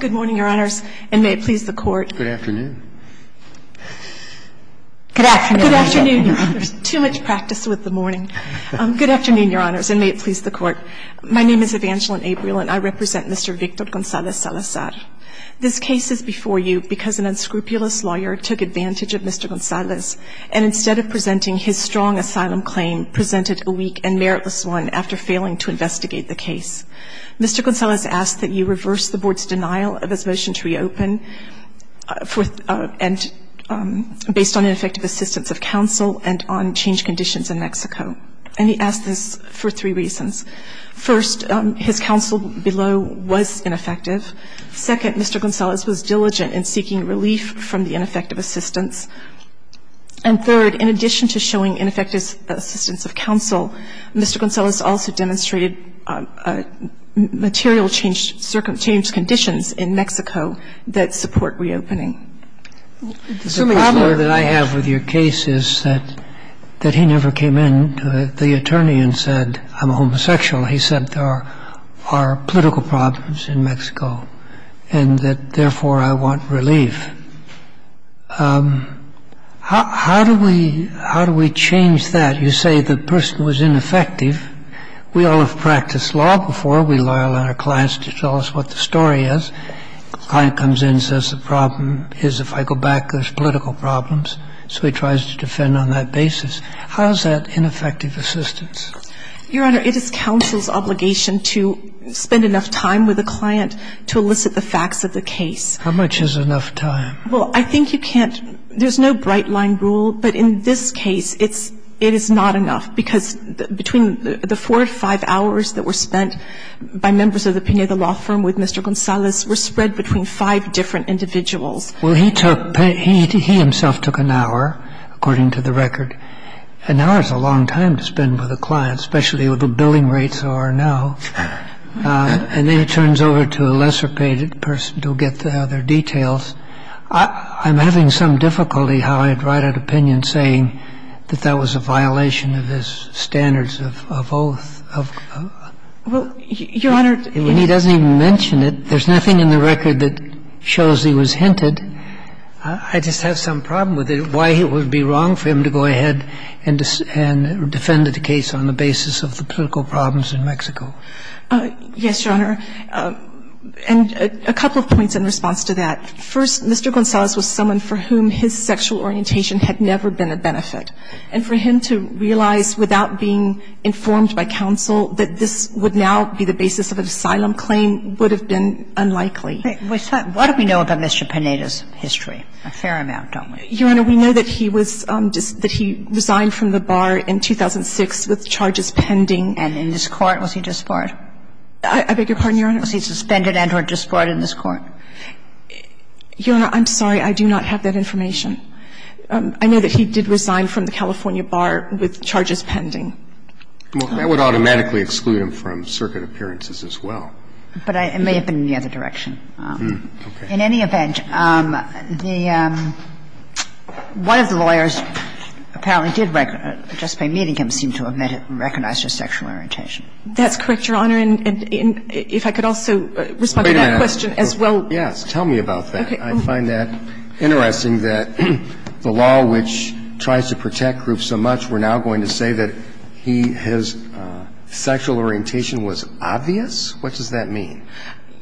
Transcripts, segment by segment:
Good morning, Your Honors, and may it please the Court, my name is Evangeline April and I represent Mr. Victor Gonzalez Salazar. This case is before you because an unscrupulous lawyer took advantage of Mr. Gonzalez and instead of presenting his strong asylum claim, presented a weak and meritless one after failing to investigate the case. Mr. Gonzalez asked that you reverse the Board's denial of his motion to reopen based on ineffective assistance of counsel and on change conditions in Mexico. And he asked this for three reasons. First, his counsel below was ineffective. Second, Mr. Gonzalez was diligent in seeking relief from the ineffective assistance. And third, in addition to showing ineffective assistance of counsel, Mr. Gonzalez also demonstrated material change conditions in Mexico that support reopening. The problem that I have with your case is that he never came in to the attorney and said I'm homosexual. He said there are political problems in Mexico and that therefore I want relief. How do we change that? You say the person was ineffective. We all have practiced law before. We rely on our clients to tell us what the story is. The client comes in and says the problem is if I go back there's political problems. So he tries to defend on that basis. How is that ineffective assistance? Your Honor, it is counsel's obligation to spend enough time with the client to elicit the facts of the case. How much is enough time? Well, I think you can't – there's no bright line rule, but in this case it's – it is not enough because between the four to five hours that were spent by members of the Pineda law firm with Mr. Gonzalez were spread between five different individuals. Well, he took – he himself took an hour, according to the record. An hour is a long time to spend with a client, especially with the billing rates that are now. And then he turns over to a lesser paid person to get the other details. I'm having some difficulty how I'd write an opinion saying that that was a violation of his standards of oath. Well, Your Honor, he – And he doesn't even mention it. There's nothing in the record that shows he was hinted. I just have some problem with it. Why it would be wrong for him to go ahead and defend the case on the basis of the political problems in Mexico. Yes, Your Honor. And a couple of points in response to that. First, Mr. Gonzalez was someone for whom his sexual orientation had never been a benefit. And for him to realize without being informed by counsel that this would now be the basis of an asylum claim would have been unlikely. What do we know about Mr. Pineda's history? A fair amount, don't we? Your Honor, we know that he was – that he resigned from the bar in 2006 with charges pending. And in this Court, was he disbarred? I beg your pardon, Your Honor? Was he suspended and or disbarred in this Court? Your Honor, I'm sorry. I do not have that information. I know that he did resign from the California bar with charges pending. Well, that would automatically exclude him from circuit appearances as well. But I – it may have been in the other direction. Okay. In any event, the – one of the lawyers apparently did just by meeting him seemed to have recognized his sexual orientation. That's correct, Your Honor. And if I could also respond to that question as well. Wait a minute. Yes. Tell me about that. Okay. I find that interesting that the law which tries to protect groups so much, we're now going to say that he – his sexual orientation was obvious? What does that mean?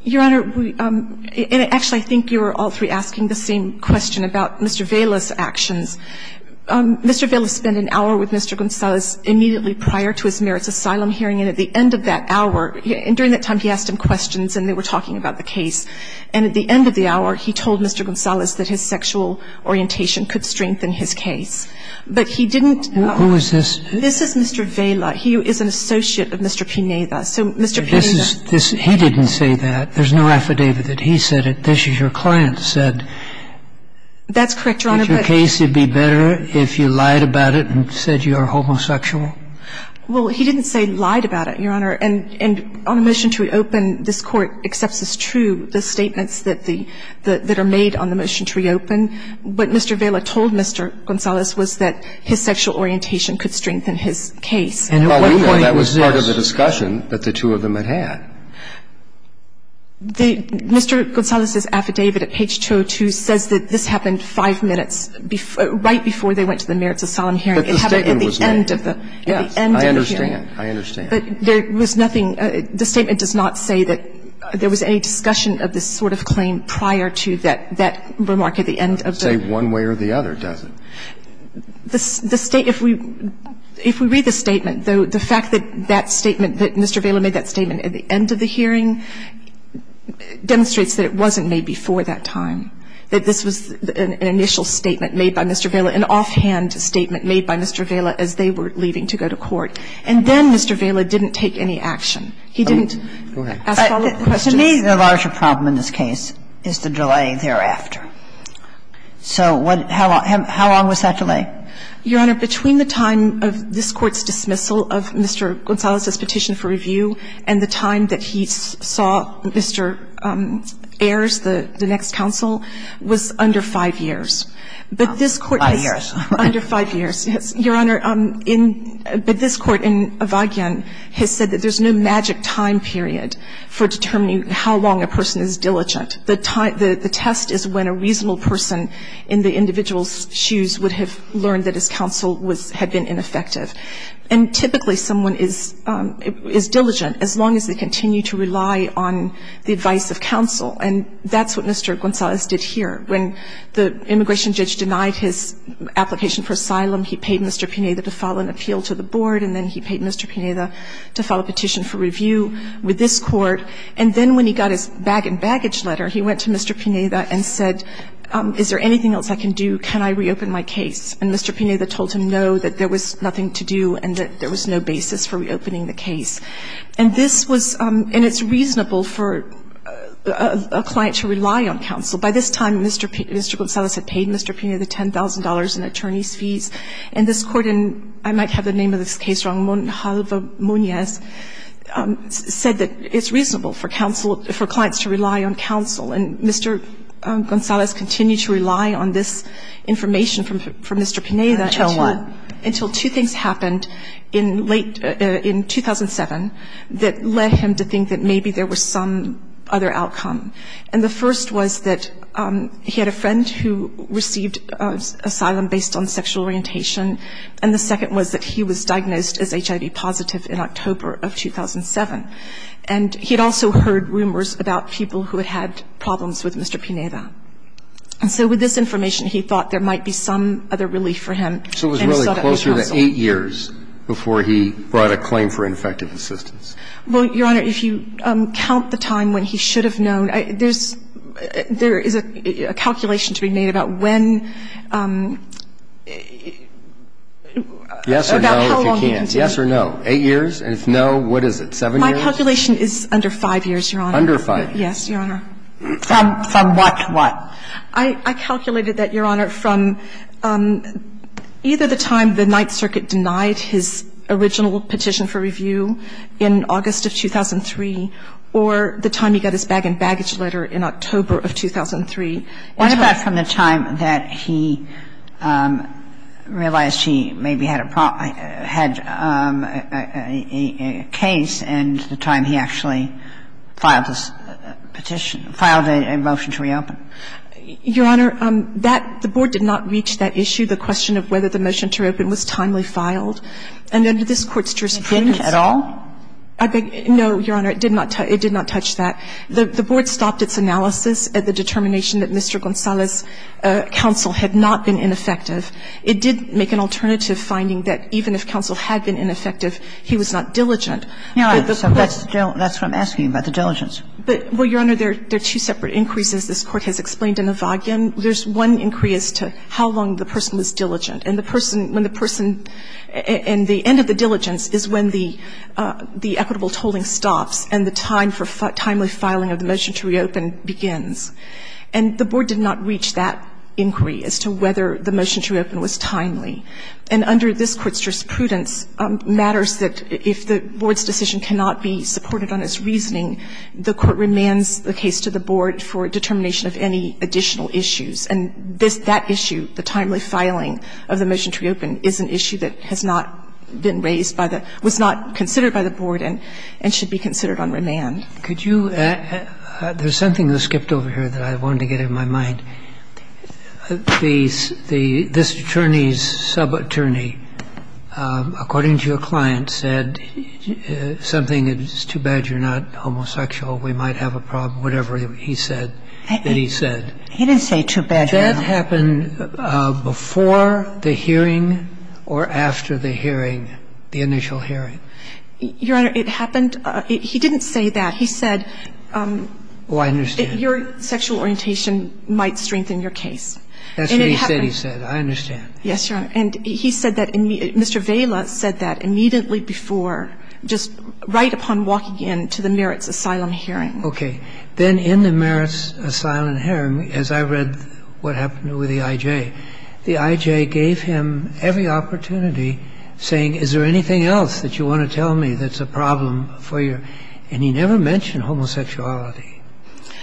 Your Honor, we – and actually, I think you were all three asking the same question about Mr. Vela's actions. Mr. Vela spent an hour with Mr. Gonzalez immediately prior to his merits asylum hearing, and at the end of that hour – during that time, he asked him questions and they were talking about the case. And at the end of the hour, he told Mr. Gonzalez that his sexual orientation could strengthen his case. But he didn't – Who is this? This is Mr. Vela. He is an associate of Mr. Pineda. So Mr. Pineda – This is – he didn't say that. This is your client said. That's correct, Your Honor. Your case would be better if you lied about it and said you are homosexual. Well, he didn't say lied about it, Your Honor. And on the motion to reopen, this Court accepts as true the statements that the – that are made on the motion to reopen. What Mr. Vela told Mr. Gonzalez was that his sexual orientation could strengthen his case. And at what point was this? Well, we know that was part of the discussion that the two of them had had. The – Mr. Gonzalez's affidavit at page 202 says that this happened five minutes right before they went to the merits of solemn hearing. But the statement was made. It happened at the end of the – at the end of the hearing. I understand. I understand. But there was nothing – the statement does not say that there was any discussion of this sort of claim prior to that – that remark at the end of the – It doesn't say one way or the other, does it? The state – if we – if we read the statement, the fact that that statement – that Mr. Vela made that statement at the end of the hearing demonstrates that it wasn't made before that time, that this was an initial statement made by Mr. Vela, an offhand statement made by Mr. Vela as they were leaving to go to court. And then Mr. Vela didn't take any action. He didn't ask follow-up questions. To me, the larger problem in this case is the delay thereafter. So what – how long – how long was that delay? Your Honor, between the time of this Court's dismissal of Mr. Gonzalez's petition for review and the time that he saw Mr. Ayers, the next counsel, was under 5 years. But this Court has – Five years. Under 5 years, yes. Your Honor, in – but this Court in Avogion has said that there's no magic time period for determining how long a person is diligent. The time – the test is when a reasonable person in the individual's shoes would have learned that his counsel was – had been ineffective. And typically someone is – is diligent as long as they continue to rely on the advice of counsel. And that's what Mr. Gonzalez did here. When the immigration judge denied his application for asylum, he paid Mr. Pineda to file an appeal to the board, and then he paid Mr. Pineda to file a petition for review with this Court. And then when he got his bag-and-baggage letter, he went to Mr. Pineda and said, is there anything else I can do? Can I reopen my case? And Mr. Pineda told him, no, that there was nothing to do and that there was no basis for reopening the case. And this was – and it's reasonable for a client to rely on counsel. By this time, Mr. – Mr. Gonzalez had paid Mr. Pineda the $10,000 in attorney's fees. And this Court in – I might have the name of this case wrong, Monjalva Muniz, said that it's reasonable for counsel – for clients to rely on counsel. And Mr. Gonzalez continued to rely on this information from Mr. Pineda until two things happened in late – in 2007 that led him to think that maybe there was some other outcome. And the first was that he had a friend who received asylum based on sexual orientation, and the second was that he was diagnosed as HIV positive in October of 2007. And he had also heard rumors about people who had had problems with Mr. Pineda. And so with this information, he thought there might be some other relief for him, and he sought out his counsel. So it was really closer to eight years before he brought a claim for ineffective assistance. Well, Your Honor, if you count the time when he should have known, there's – there is a calculation to be made about when – about how long he continued. Yes or no, if you can. Yes or no. What is it, seven years? My calculation is under five years, Your Honor. Under five. Yes, Your Honor. From what to what? I calculated that, Your Honor, from either the time the Ninth Circuit denied his original petition for review in August of 2003 or the time he got his bag and baggage letter in October of 2003. What about from the time that he realized he maybe had a problem – had a case and the time he actually filed this petition – filed a motion to reopen? Your Honor, that – the board did not reach that issue, the question of whether the motion to reopen was timely filed. And under this Court's jurisprudence – It didn't at all? No, Your Honor. It did not touch that. The board stopped its analysis at the determination that Mr. Gonzales' counsel had not been ineffective. It did make an alternative finding that even if counsel had been ineffective, he was not diligent. No. So that's what I'm asking about, the diligence. But, well, Your Honor, there are two separate increases this Court has explained in the Wagner. There's one increase to how long the person was diligent. And the person – when the person – and the end of the diligence is when the equitable tolling stops and the time for timely filing of the motion to reopen begins. And the board did not reach that inquiry as to whether the motion to reopen was timely. And under this Court's jurisprudence matters that if the board's decision cannot be supported on its reasoning, the court remands the case to the board for determination of any additional issues. And this – that issue, the timely filing of the motion to reopen, is an issue that has not been raised by the – was not considered by the board. And it should be considered on remand. Could you – there's something that skipped over here that I wanted to get in my mind. The – this attorney's subattorney, according to your client, said something that is too bad you're not homosexual, we might have a problem, whatever he said that he said. He didn't say too bad, Your Honor. Did that happen before the hearing or after the hearing, the initial hearing? Your Honor, it happened – he didn't say that. He said your sexual orientation might strengthen your case. That's what he said, he said. I understand. Yes, Your Honor. And he said that – Mr. Vaila said that immediately before, just right upon walking into the merits asylum hearing. Okay. Then in the merits asylum hearing, as I read what happened with the I.J., the I.J. gave him every opportunity saying, is there anything else that you want to tell me that's a problem for your – and he never mentioned homosexuality.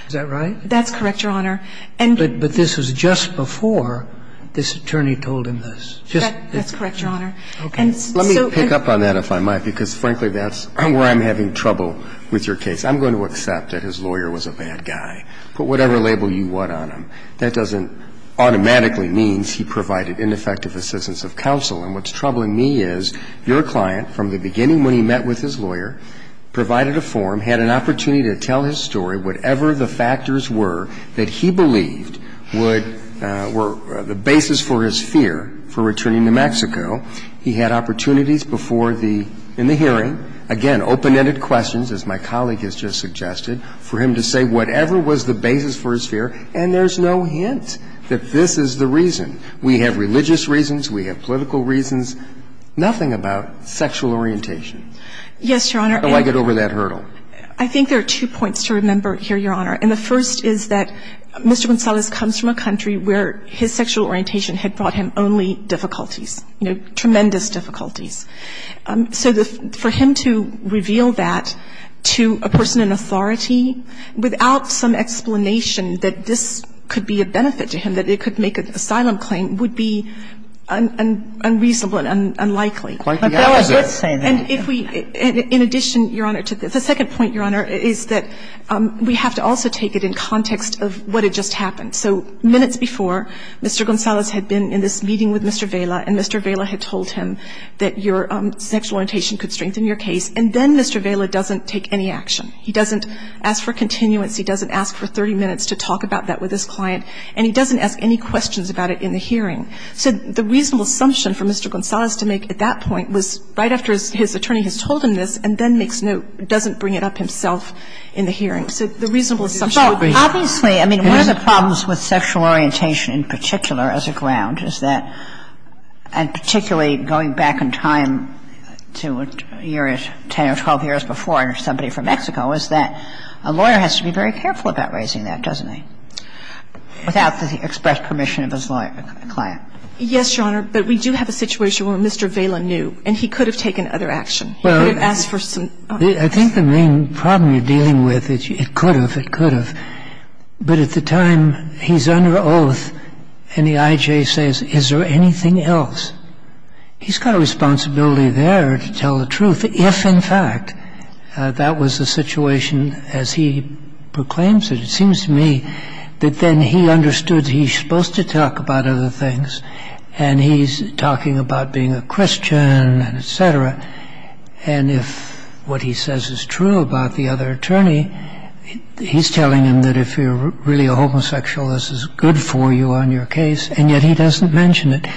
Is that right? That's correct, Your Honor. But this was just before this attorney told him this. That's correct, Your Honor. Okay. Let me pick up on that, if I might, because, frankly, that's where I'm having trouble with your case. I'm going to accept that his lawyer was a bad guy. Put whatever label you want on him. That doesn't automatically mean he provided ineffective assistance of counsel. And what's troubling me is your client, from the beginning when he met with his lawyer, provided a form, had an opportunity to tell his story, whatever the factors were that he believed would – were the basis for his fear for returning to Mexico. He had opportunities before the – in the hearing, again, open-ended questions, as my colleague has just suggested, for him to say whatever was the basis for his He didn't have a clue. And there's no hint that this is the reason. We have religious reasons. We have political reasons. Nothing about sexual orientation. Yes, Your Honor. How do I get over that hurdle? I think there are two points to remember here, Your Honor. And the first is that Mr. Gonzalez comes from a country where his sexual orientation had brought him only difficulties, you know, tremendous difficulties. So for him to reveal that to a person in authority without some explanation that this could be a benefit to him, that it could make an asylum claim, would be unreasonable and unlikely. Quite the opposite. And if we – in addition, Your Honor, to the second point, Your Honor, is that we have to also take it in context of what had just happened. So minutes before, Mr. Gonzalez had been in this meeting with Mr. Vela, and Mr. Vela had told him that your sexual orientation could strengthen your case. And then Mr. Vela doesn't take any action. He doesn't ask for continuance. He doesn't ask for 30 minutes to talk about that with his client. And he doesn't ask any questions about it in the hearing. So the reasonable assumption for Mr. Gonzalez to make at that point was right after his attorney has told him this and then makes note, doesn't bring it up himself in the hearing. So the reasonable assumption would be that. Obviously, I mean, one of the problems with sexual orientation in particular as a ground is that, and particularly going back in time to a year, 10 or 12 years before, somebody from Mexico, is that a lawyer has to be very careful about raising that, doesn't he, without the express permission of his client? Yes, Your Honor. But we do have a situation where Mr. Vela knew, and he could have taken other action. He could have asked for some other action. I think the main problem you're dealing with is it could have, it could have. But at the time, he's under oath, and the IJ says, is there anything else? He's got a responsibility there to tell the truth if, in fact, that was the situation as he proclaims it. It seems to me that then he understood he's supposed to talk about other things. And he's talking about being a Christian and et cetera. And if what he says is true about the other attorney, he's telling him that if you're really a homosexual, this is good for you on your case, and yet he doesn't mention it.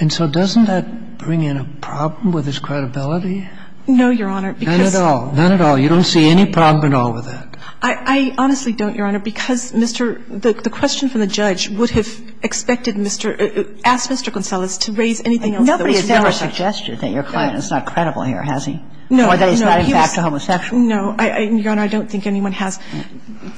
And so doesn't that bring in a problem with his credibility? No, Your Honor. Not at all. Not at all. You don't see any problem at all with that. I honestly don't, Your Honor, because Mr. the question from the judge would have expected Mr. Gonzalez to raise anything else that was relevant. Nobody has ever suggested that your client is not credible here, has he? No. Or that he's not in fact a homosexual. No. Your Honor, I don't think anyone has.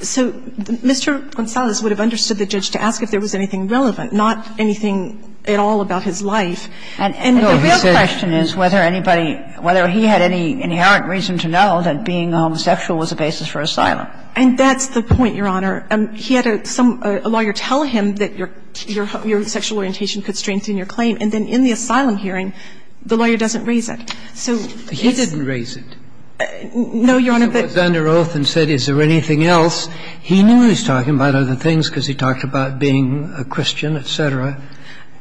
So Mr. Gonzalez would have understood the judge to ask if there was anything relevant, not anything at all about his life. And the real question is whether anybody, whether he had any inherent reason to know that being a homosexual was a basis for asylum. And that's the point, Your Honor. And he had a lawyer tell him that your sexual orientation could strengthen your claim. And then in the asylum hearing, the lawyer doesn't raise it. He didn't raise it. No, Your Honor. He was under oath and said is there anything else. He knew he was talking about other things because he talked about being a Christian, et cetera.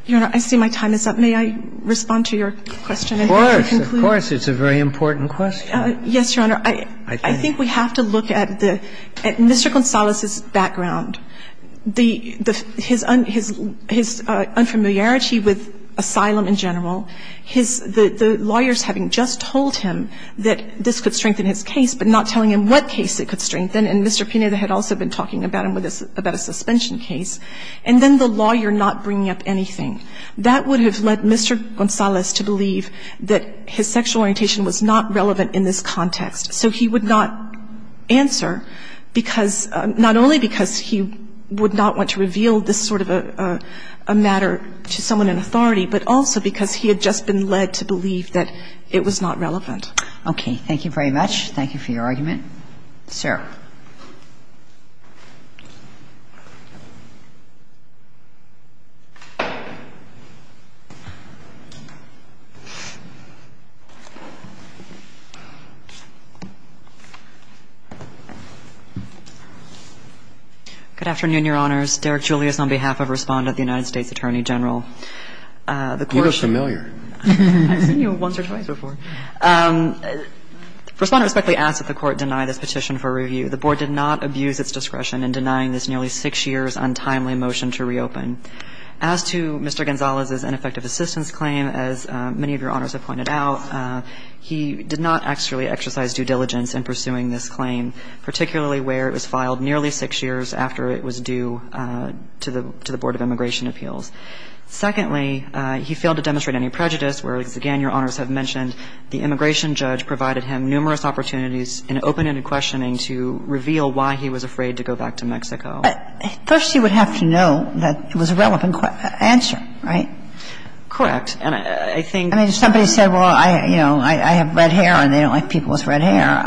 Your Honor, I see my time is up. May I respond to your question? Of course. Of course. It's a very important question. Yes, Your Honor. Your Honor, I think we have to look at Mr. Gonzalez's background. His unfamiliarity with asylum in general, the lawyers having just told him that this could strengthen his case, but not telling him what case it could strengthen and Mr. Pineda had also been talking about him with a suspension case, and then the lawyer not bringing up anything, that would have led Mr. Gonzalez to believe that his sexual orientation was not relevant in this context. So he would not answer because, not only because he would not want to reveal this sort of a matter to someone in authority, but also because he had just been led to believe that it was not relevant. Okay. Thank you very much. Thank you for your argument. Sarah. Good afternoon, Your Honors. Derek Julius on behalf of Respondent, the United States Attorney General. The court… You look familiar. I've seen you once or twice before. Respondent respectfully asks that the court deny this petition for review. The board did not abuse its discretion in denying this nearly six years' untimely motion to reopen. As to Mr. Gonzalez's ineffective assistance claim, as many of Your Honors have pointed out, he did not actually exercise due diligence in pursuing this claim, particularly where it was filed nearly six years after it was due to the Board of Immigration Appeals. Secondly, he failed to demonstrate any prejudice, whereas, again, Your Honors have mentioned, the immigration judge provided him numerous opportunities in open-ended questioning to reveal why he was afraid to go back to Mexico. First, he would have to know that it was a relevant answer, right? Correct. And I think… I mean, if somebody said, well, you know, I have red hair and they don't like people with red hair,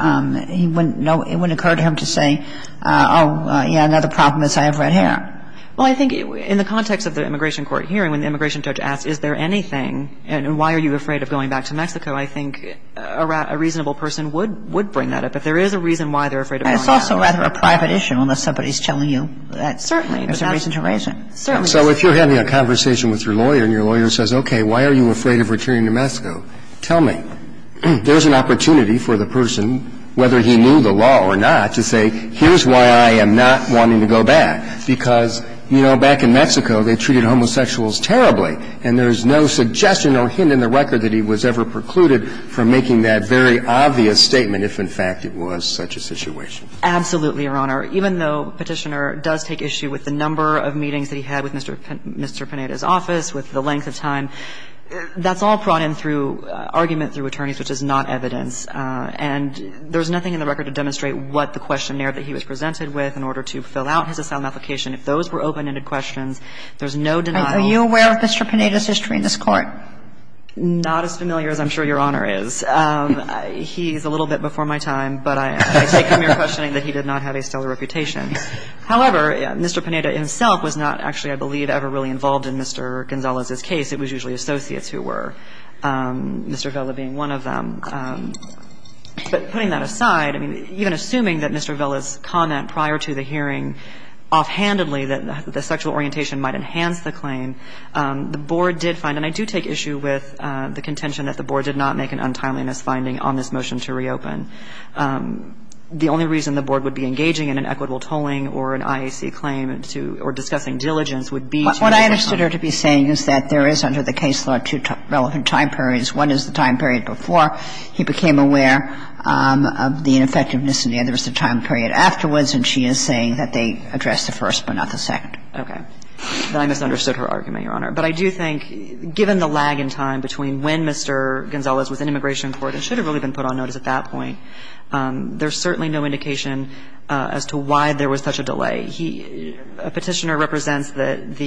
it wouldn't occur to him to say, oh, yeah, another problem is I have red hair. Well, I think in the context of the immigration court hearing, when the immigration judge asks, is there anything, and why are you afraid of going back to Mexico, I think a reasonable person would bring that up if there is a reason why they're afraid of going back. And it's also rather a private issue unless somebody is telling you that there's a reason to raise it. Certainly. So if you're having a conversation with your lawyer and your lawyer says, okay, why are you afraid of returning to Mexico, tell me. There's an opportunity for the person, whether he knew the law or not, to say, here's why I am not wanting to go back, because, you know, back in Mexico they treated homosexuals terribly, and there's no suggestion or hint in the record that he was ever precluded from making that very obvious statement if, in fact, it was such a situation. Absolutely, Your Honor. Even though Petitioner does take issue with the number of meetings that he had with Mr. Pineda's office, with the length of time, that's all brought in through argument through attorneys, which is not evidence. And there's nothing in the record to demonstrate what the questionnaire that he was presented with in order to fill out his asylum application. If those were open-ended questions, there's no denial. Are you aware of Mr. Pineda's history in this Court? Not as familiar as I'm sure Your Honor is. He's a little bit before my time, but I take him here questioning that he did not have a stellar reputation. However, Mr. Pineda himself was not actually, I believe, ever really involved in Mr. Gonzalez's case. It was usually associates who were, Mr. Vella being one of them. But putting that aside, even assuming that Mr. Vella's comment prior to the hearing offhandedly that the sexual orientation might enhance the claim, the board did find and I do take issue with the contention that the board did not make an untimeliness finding on this motion to reopen. The only reason the board would be engaging in an equitable tolling or an IAC claim to or discussing diligence would be to make an untimeliness finding. What I understood her to be saying is that there is, under the case law, two relevant time periods. One is the time period before he became aware of the ineffectiveness and the other is the time period afterwards, and she is saying that they addressed the first but not the second. Okay. Then I misunderstood her argument, Your Honor. But I do think, given the lag in time between when Mr. Gonzalez was in immigration court and should have really been put on notice at that point, there's certainly no indication as to why there was such a delay. He, a Petitioner represents that the,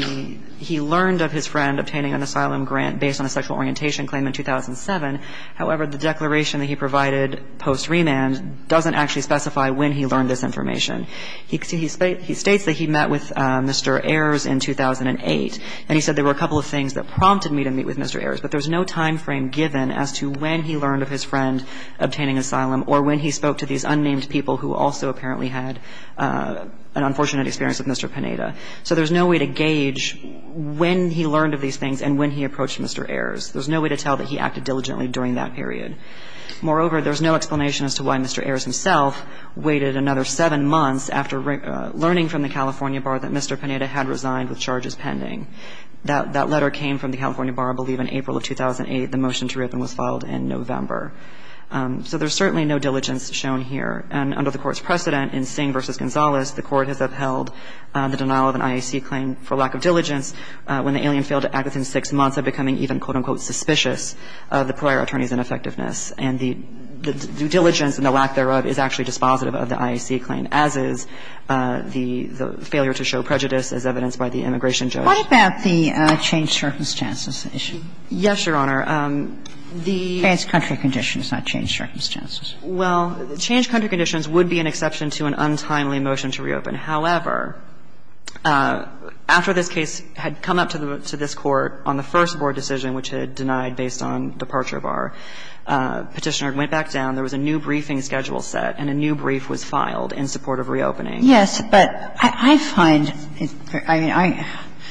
he learned of his friend obtaining an asylum grant based on a sexual orientation claim in 2007. However, the declaration that he provided post remand doesn't actually specify when he learned this information. He states that he met with Mr. Ayers in 2008, and he said there were a couple of things that prompted me to meet with Mr. Ayers, but there's no time frame given as to when he learned of his friend obtaining asylum or when he spoke to these unnamed people who also apparently had an unfortunate experience with Mr. Pineda. So there's no way to gauge when he learned of these things and when he approached Mr. Ayers. There's no way to tell that he acted diligently during that period. Moreover, there's no explanation as to why Mr. Ayers himself waited another seven months after learning from the California Bar that Mr. Pineda had resigned with charges pending. That letter came from the California Bar, I believe, in April of 2008. The motion to rip him was filed in November. So there's certainly no diligence shown here. And under the Court's precedent in Singh v. Gonzalez, the Court has upheld the denial of an IAC claim for lack of diligence when the alien failed to act within six months of becoming even, quote, unquote, suspicious of the prior attorney's ineffectiveness. And the diligence and the lack thereof is actually dispositive of the IAC claim as is the failure to show prejudice as evidenced by the immigration judge. What about the changed circumstances issue? Yes, Your Honor. The ---- Trans-country conditions, not changed circumstances. Well, changed country conditions would be an exception to an untimely motion to reopen. However, after this case had come up to this Court on the first board decision, which had denied based on departure of our Petitioner, it went back down, there was a new briefing schedule set, and a new brief was filed in support of reopening. Yes, but I find it very ---- I mean, I ----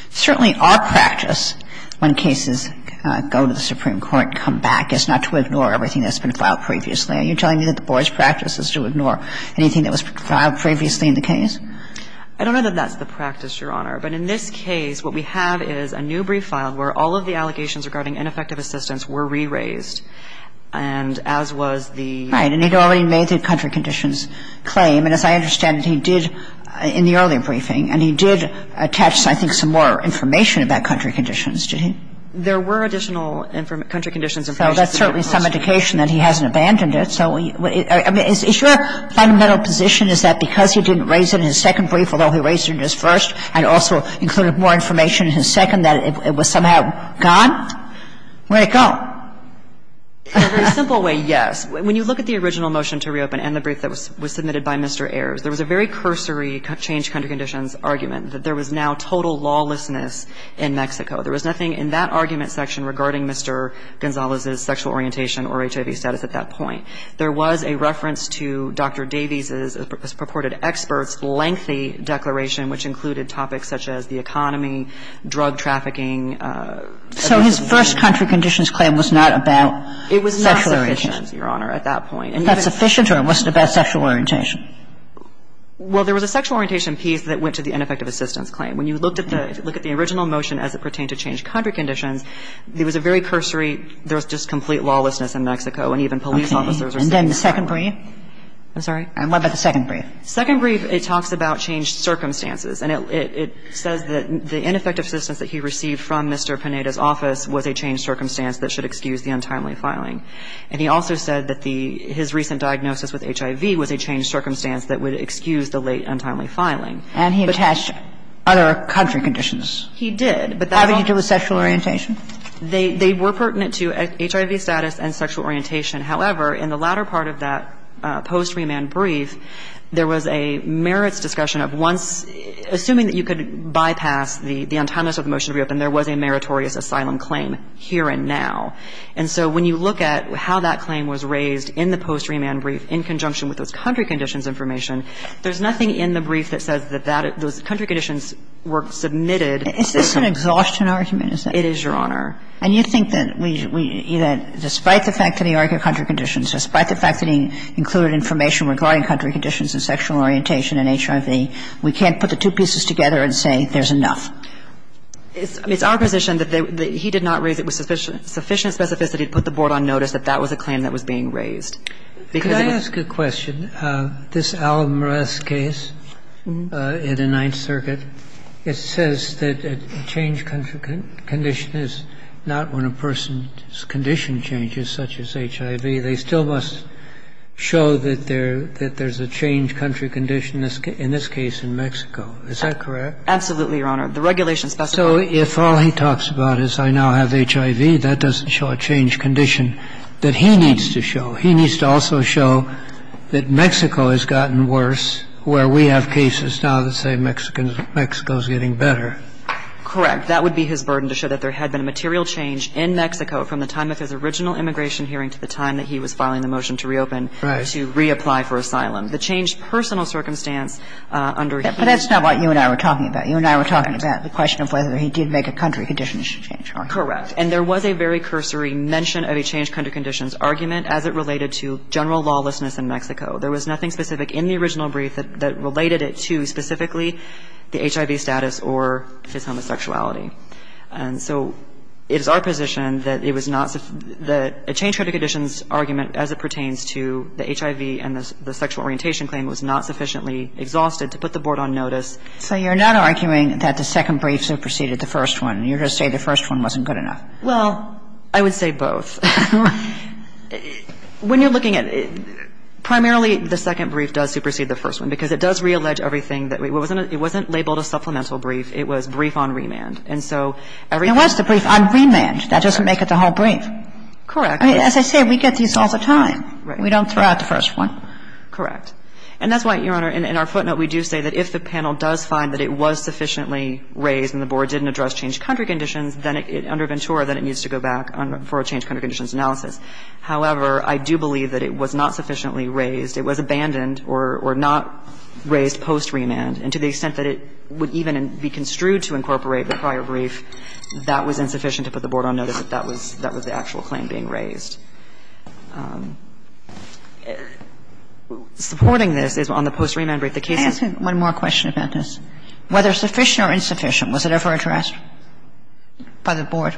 certainly our practice when cases go to the Supreme Court, come back, is not to ignore everything that's been filed previously. Are you telling me that the board's practice is to ignore anything that was filed previously in the case? I don't know that that's the practice, Your Honor. But in this case, what we have is a new brief filed where all of the allegations regarding ineffective assistance were re-raised. And as was the ---- Right. And he'd already made the country conditions claim. And as I understand, he did in the earlier briefing, and he did attach, I think, some more information about country conditions, didn't he? There were additional country conditions ---- So that's certainly some indication that he hasn't abandoned it. So is your fundamental position is that because he didn't raise it in his second brief, although he raised it in his first, and also included more information in his second, that it was somehow gone? Where'd it go? In a very simple way, yes. When you look at the original motion to reopen and the brief that was submitted by Mr. Ayers, there was a very cursory change country conditions argument, that there was now total lawlessness in Mexico. There was nothing in that argument section regarding Mr. Gonzalez's sexual orientation or HIV status at that point. There was a reference to Dr. Davies's purported expert's lengthy declaration, which included topics such as the economy, drug trafficking. So his first country conditions claim was not about sexual orientation. It was not sufficient, Your Honor, at that point. Not sufficient, or it wasn't about sexual orientation? Well, there was a sexual orientation piece that went to the ineffective assistance claim. When you looked at the original motion as it pertained to change country conditions, there was a very cursory, there was just complete lawlessness in Mexico, and even police officers were saying that. And then the second brief? I'm sorry? What about the second brief? Second brief, it talks about changed circumstances, and it says that the ineffective assistance that he received from Mr. Pineda's office was a changed circumstance that should excuse the untimely filing. And he also said that the his recent diagnosis with HIV was a changed circumstance that would excuse the late untimely filing. And he attached other country conditions. He did, but that's all. How did he deal with sexual orientation? They were pertinent to HIV status and sexual orientation. However, in the latter part of that post-remand brief, there was a merits discussion of once, assuming that you could bypass the untimeliness of the motion to reopen, there was a meritorious asylum claim here and now. And so when you look at how that claim was raised in the post-remand brief in conjunction with those country conditions information, there's nothing in the brief that says that those country conditions were submitted. Is this an exhaustion argument? It is, Your Honor. And you think that we, that despite the fact that he argued country conditions, despite the fact that he included information regarding country conditions and sexual orientation and HIV, we can't put the two pieces together and say there's enough? It's our position that he did not raise it with sufficient specificity to put the board on notice that that was a claim that was being raised. Could I ask a question? This Al-Murath case in the Ninth Circuit, it says that a changed country condition is not when a person's condition changes, such as HIV. They still must show that there's a changed country condition in this case in Mexico. Is that correct? Absolutely, Your Honor. The regulation specifies that. So if all he talks about is I now have HIV, that doesn't show a changed condition that he needs to show. He needs to also show that Mexico has gotten worse, where we have cases now that say Mexico is getting better. Correct. That would be his burden, to show that there had been a material change in Mexico from the time of his original immigration hearing to the time that he was filing the motion to reopen, to reapply for asylum. The changed personal circumstance under his position. But that's not what you and I were talking about. You and I were talking about the question of whether he did make a country condition change argument. Correct. And there was a very cursory mention of a changed country condition's argument as it related to general lawlessness in Mexico. There was nothing specific in the original brief that related it to specifically the HIV status or his homosexuality. And so it is our position that it was not the changed country condition's argument as it pertains to the HIV and the sexual orientation claim was not sufficiently exhausted to put the Board on notice. So you're not arguing that the second brief superseded the first one. You're just saying the first one wasn't good enough. Well, I would say both. When you're looking at it, primarily the second brief does supersede the first one, because it does reallege everything that we was in. It wasn't labeled a supplemental brief. It was brief on remand. And so every one of the briefs on remand, that doesn't make it the whole brief. Correct. As I say, we get these all the time. Right. We don't throw out the first one. Correct. And that's why, Your Honor, in our footnote, we do say that if the panel does find that it was sufficiently raised and the Board didn't address changed country conditions, then it, under Ventura, then it needs to go back for a changed country conditions analysis. However, I do believe that it was not sufficiently raised. It was abandoned or not raised post-remand. And to the extent that it would even be construed to incorporate the prior brief, that was insufficient to put the Board on notice that that was, that was the actual claim being raised. Supporting this is on the post-remand brief. Let me ask you one more question about this. Whether sufficient or insufficient, was it ever addressed by the Board?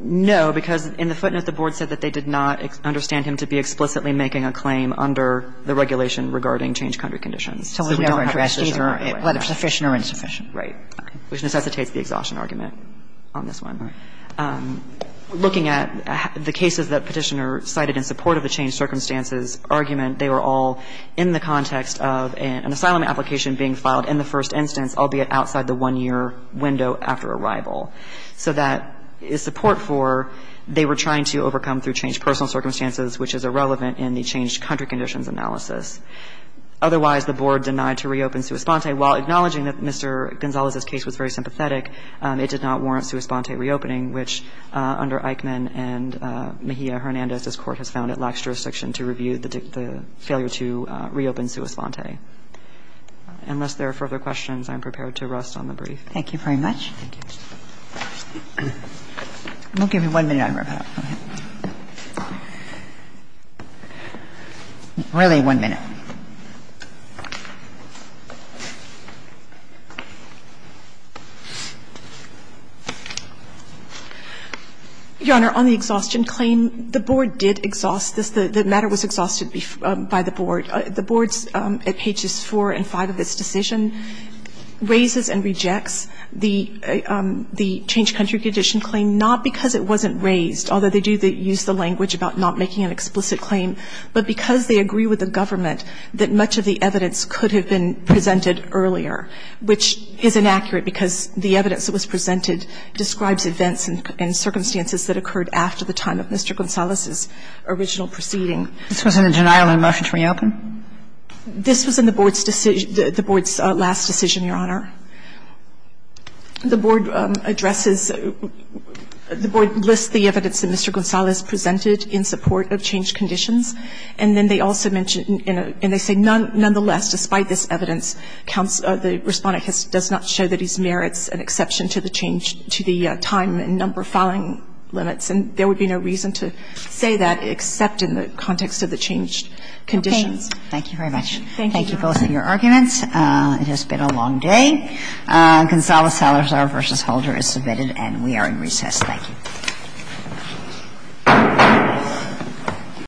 No, because in the footnote, the Board said that they did not understand him to be explicitly making a claim under the regulation regarding changed country conditions. So we don't address either whether sufficient or insufficient. Right. Which necessitates the exhaustion argument on this one. Right. Looking at the cases that Petitioner cited in support of the changed circumstances argument, they were all in the context of an asylum application being filed in the first instance, albeit outside the one-year window after arrival. So that is support for they were trying to overcome through changed personal circumstances, which is irrelevant in the changed country conditions analysis. Otherwise, the Board denied to reopen Suis Ponte. While acknowledging that Mr. Gonzalez's case was very sympathetic, it did not warrant Suis Ponte reopening, which under Eichmann and Mejia-Hernandez, this Court has found to be the most appropriate jurisdiction to review the failure to reopen Suis Ponte. Unless there are further questions, I'm prepared to rest on the brief. Thank you very much. Thank you. We'll give you one minute on review. Really one minute. The matter was exhausted by the Board. The Board's, at pages 4 and 5 of this decision, raises and rejects the changed country condition claim not because it wasn't raised, although they do use the language about not making an explicit claim, but because they agree with the government that much of the evidence could have been presented earlier, which is inaccurate because the evidence that was presented describes events and circumstances that occurred after the time of Mr. Gonzalez's original proceeding. This was in a denial of motion to reopen? This was in the Board's decision, the Board's last decision, Your Honor. The Board addresses, the Board lists the evidence that Mr. Gonzalez presented in support of changed conditions, and then they also mention, and they say nonetheless, despite this evidence, the Respondent does not show that he merits an exception to the time and number of filing limits, and there would be no reason to say that except in the context of the changed conditions. Thank you very much. Thank you, Your Honor. Thank you both for your arguments. It has been a long day. Gonzalez-Salazar v. Holder is submitted, and we are in recess. Thank you. Thank you.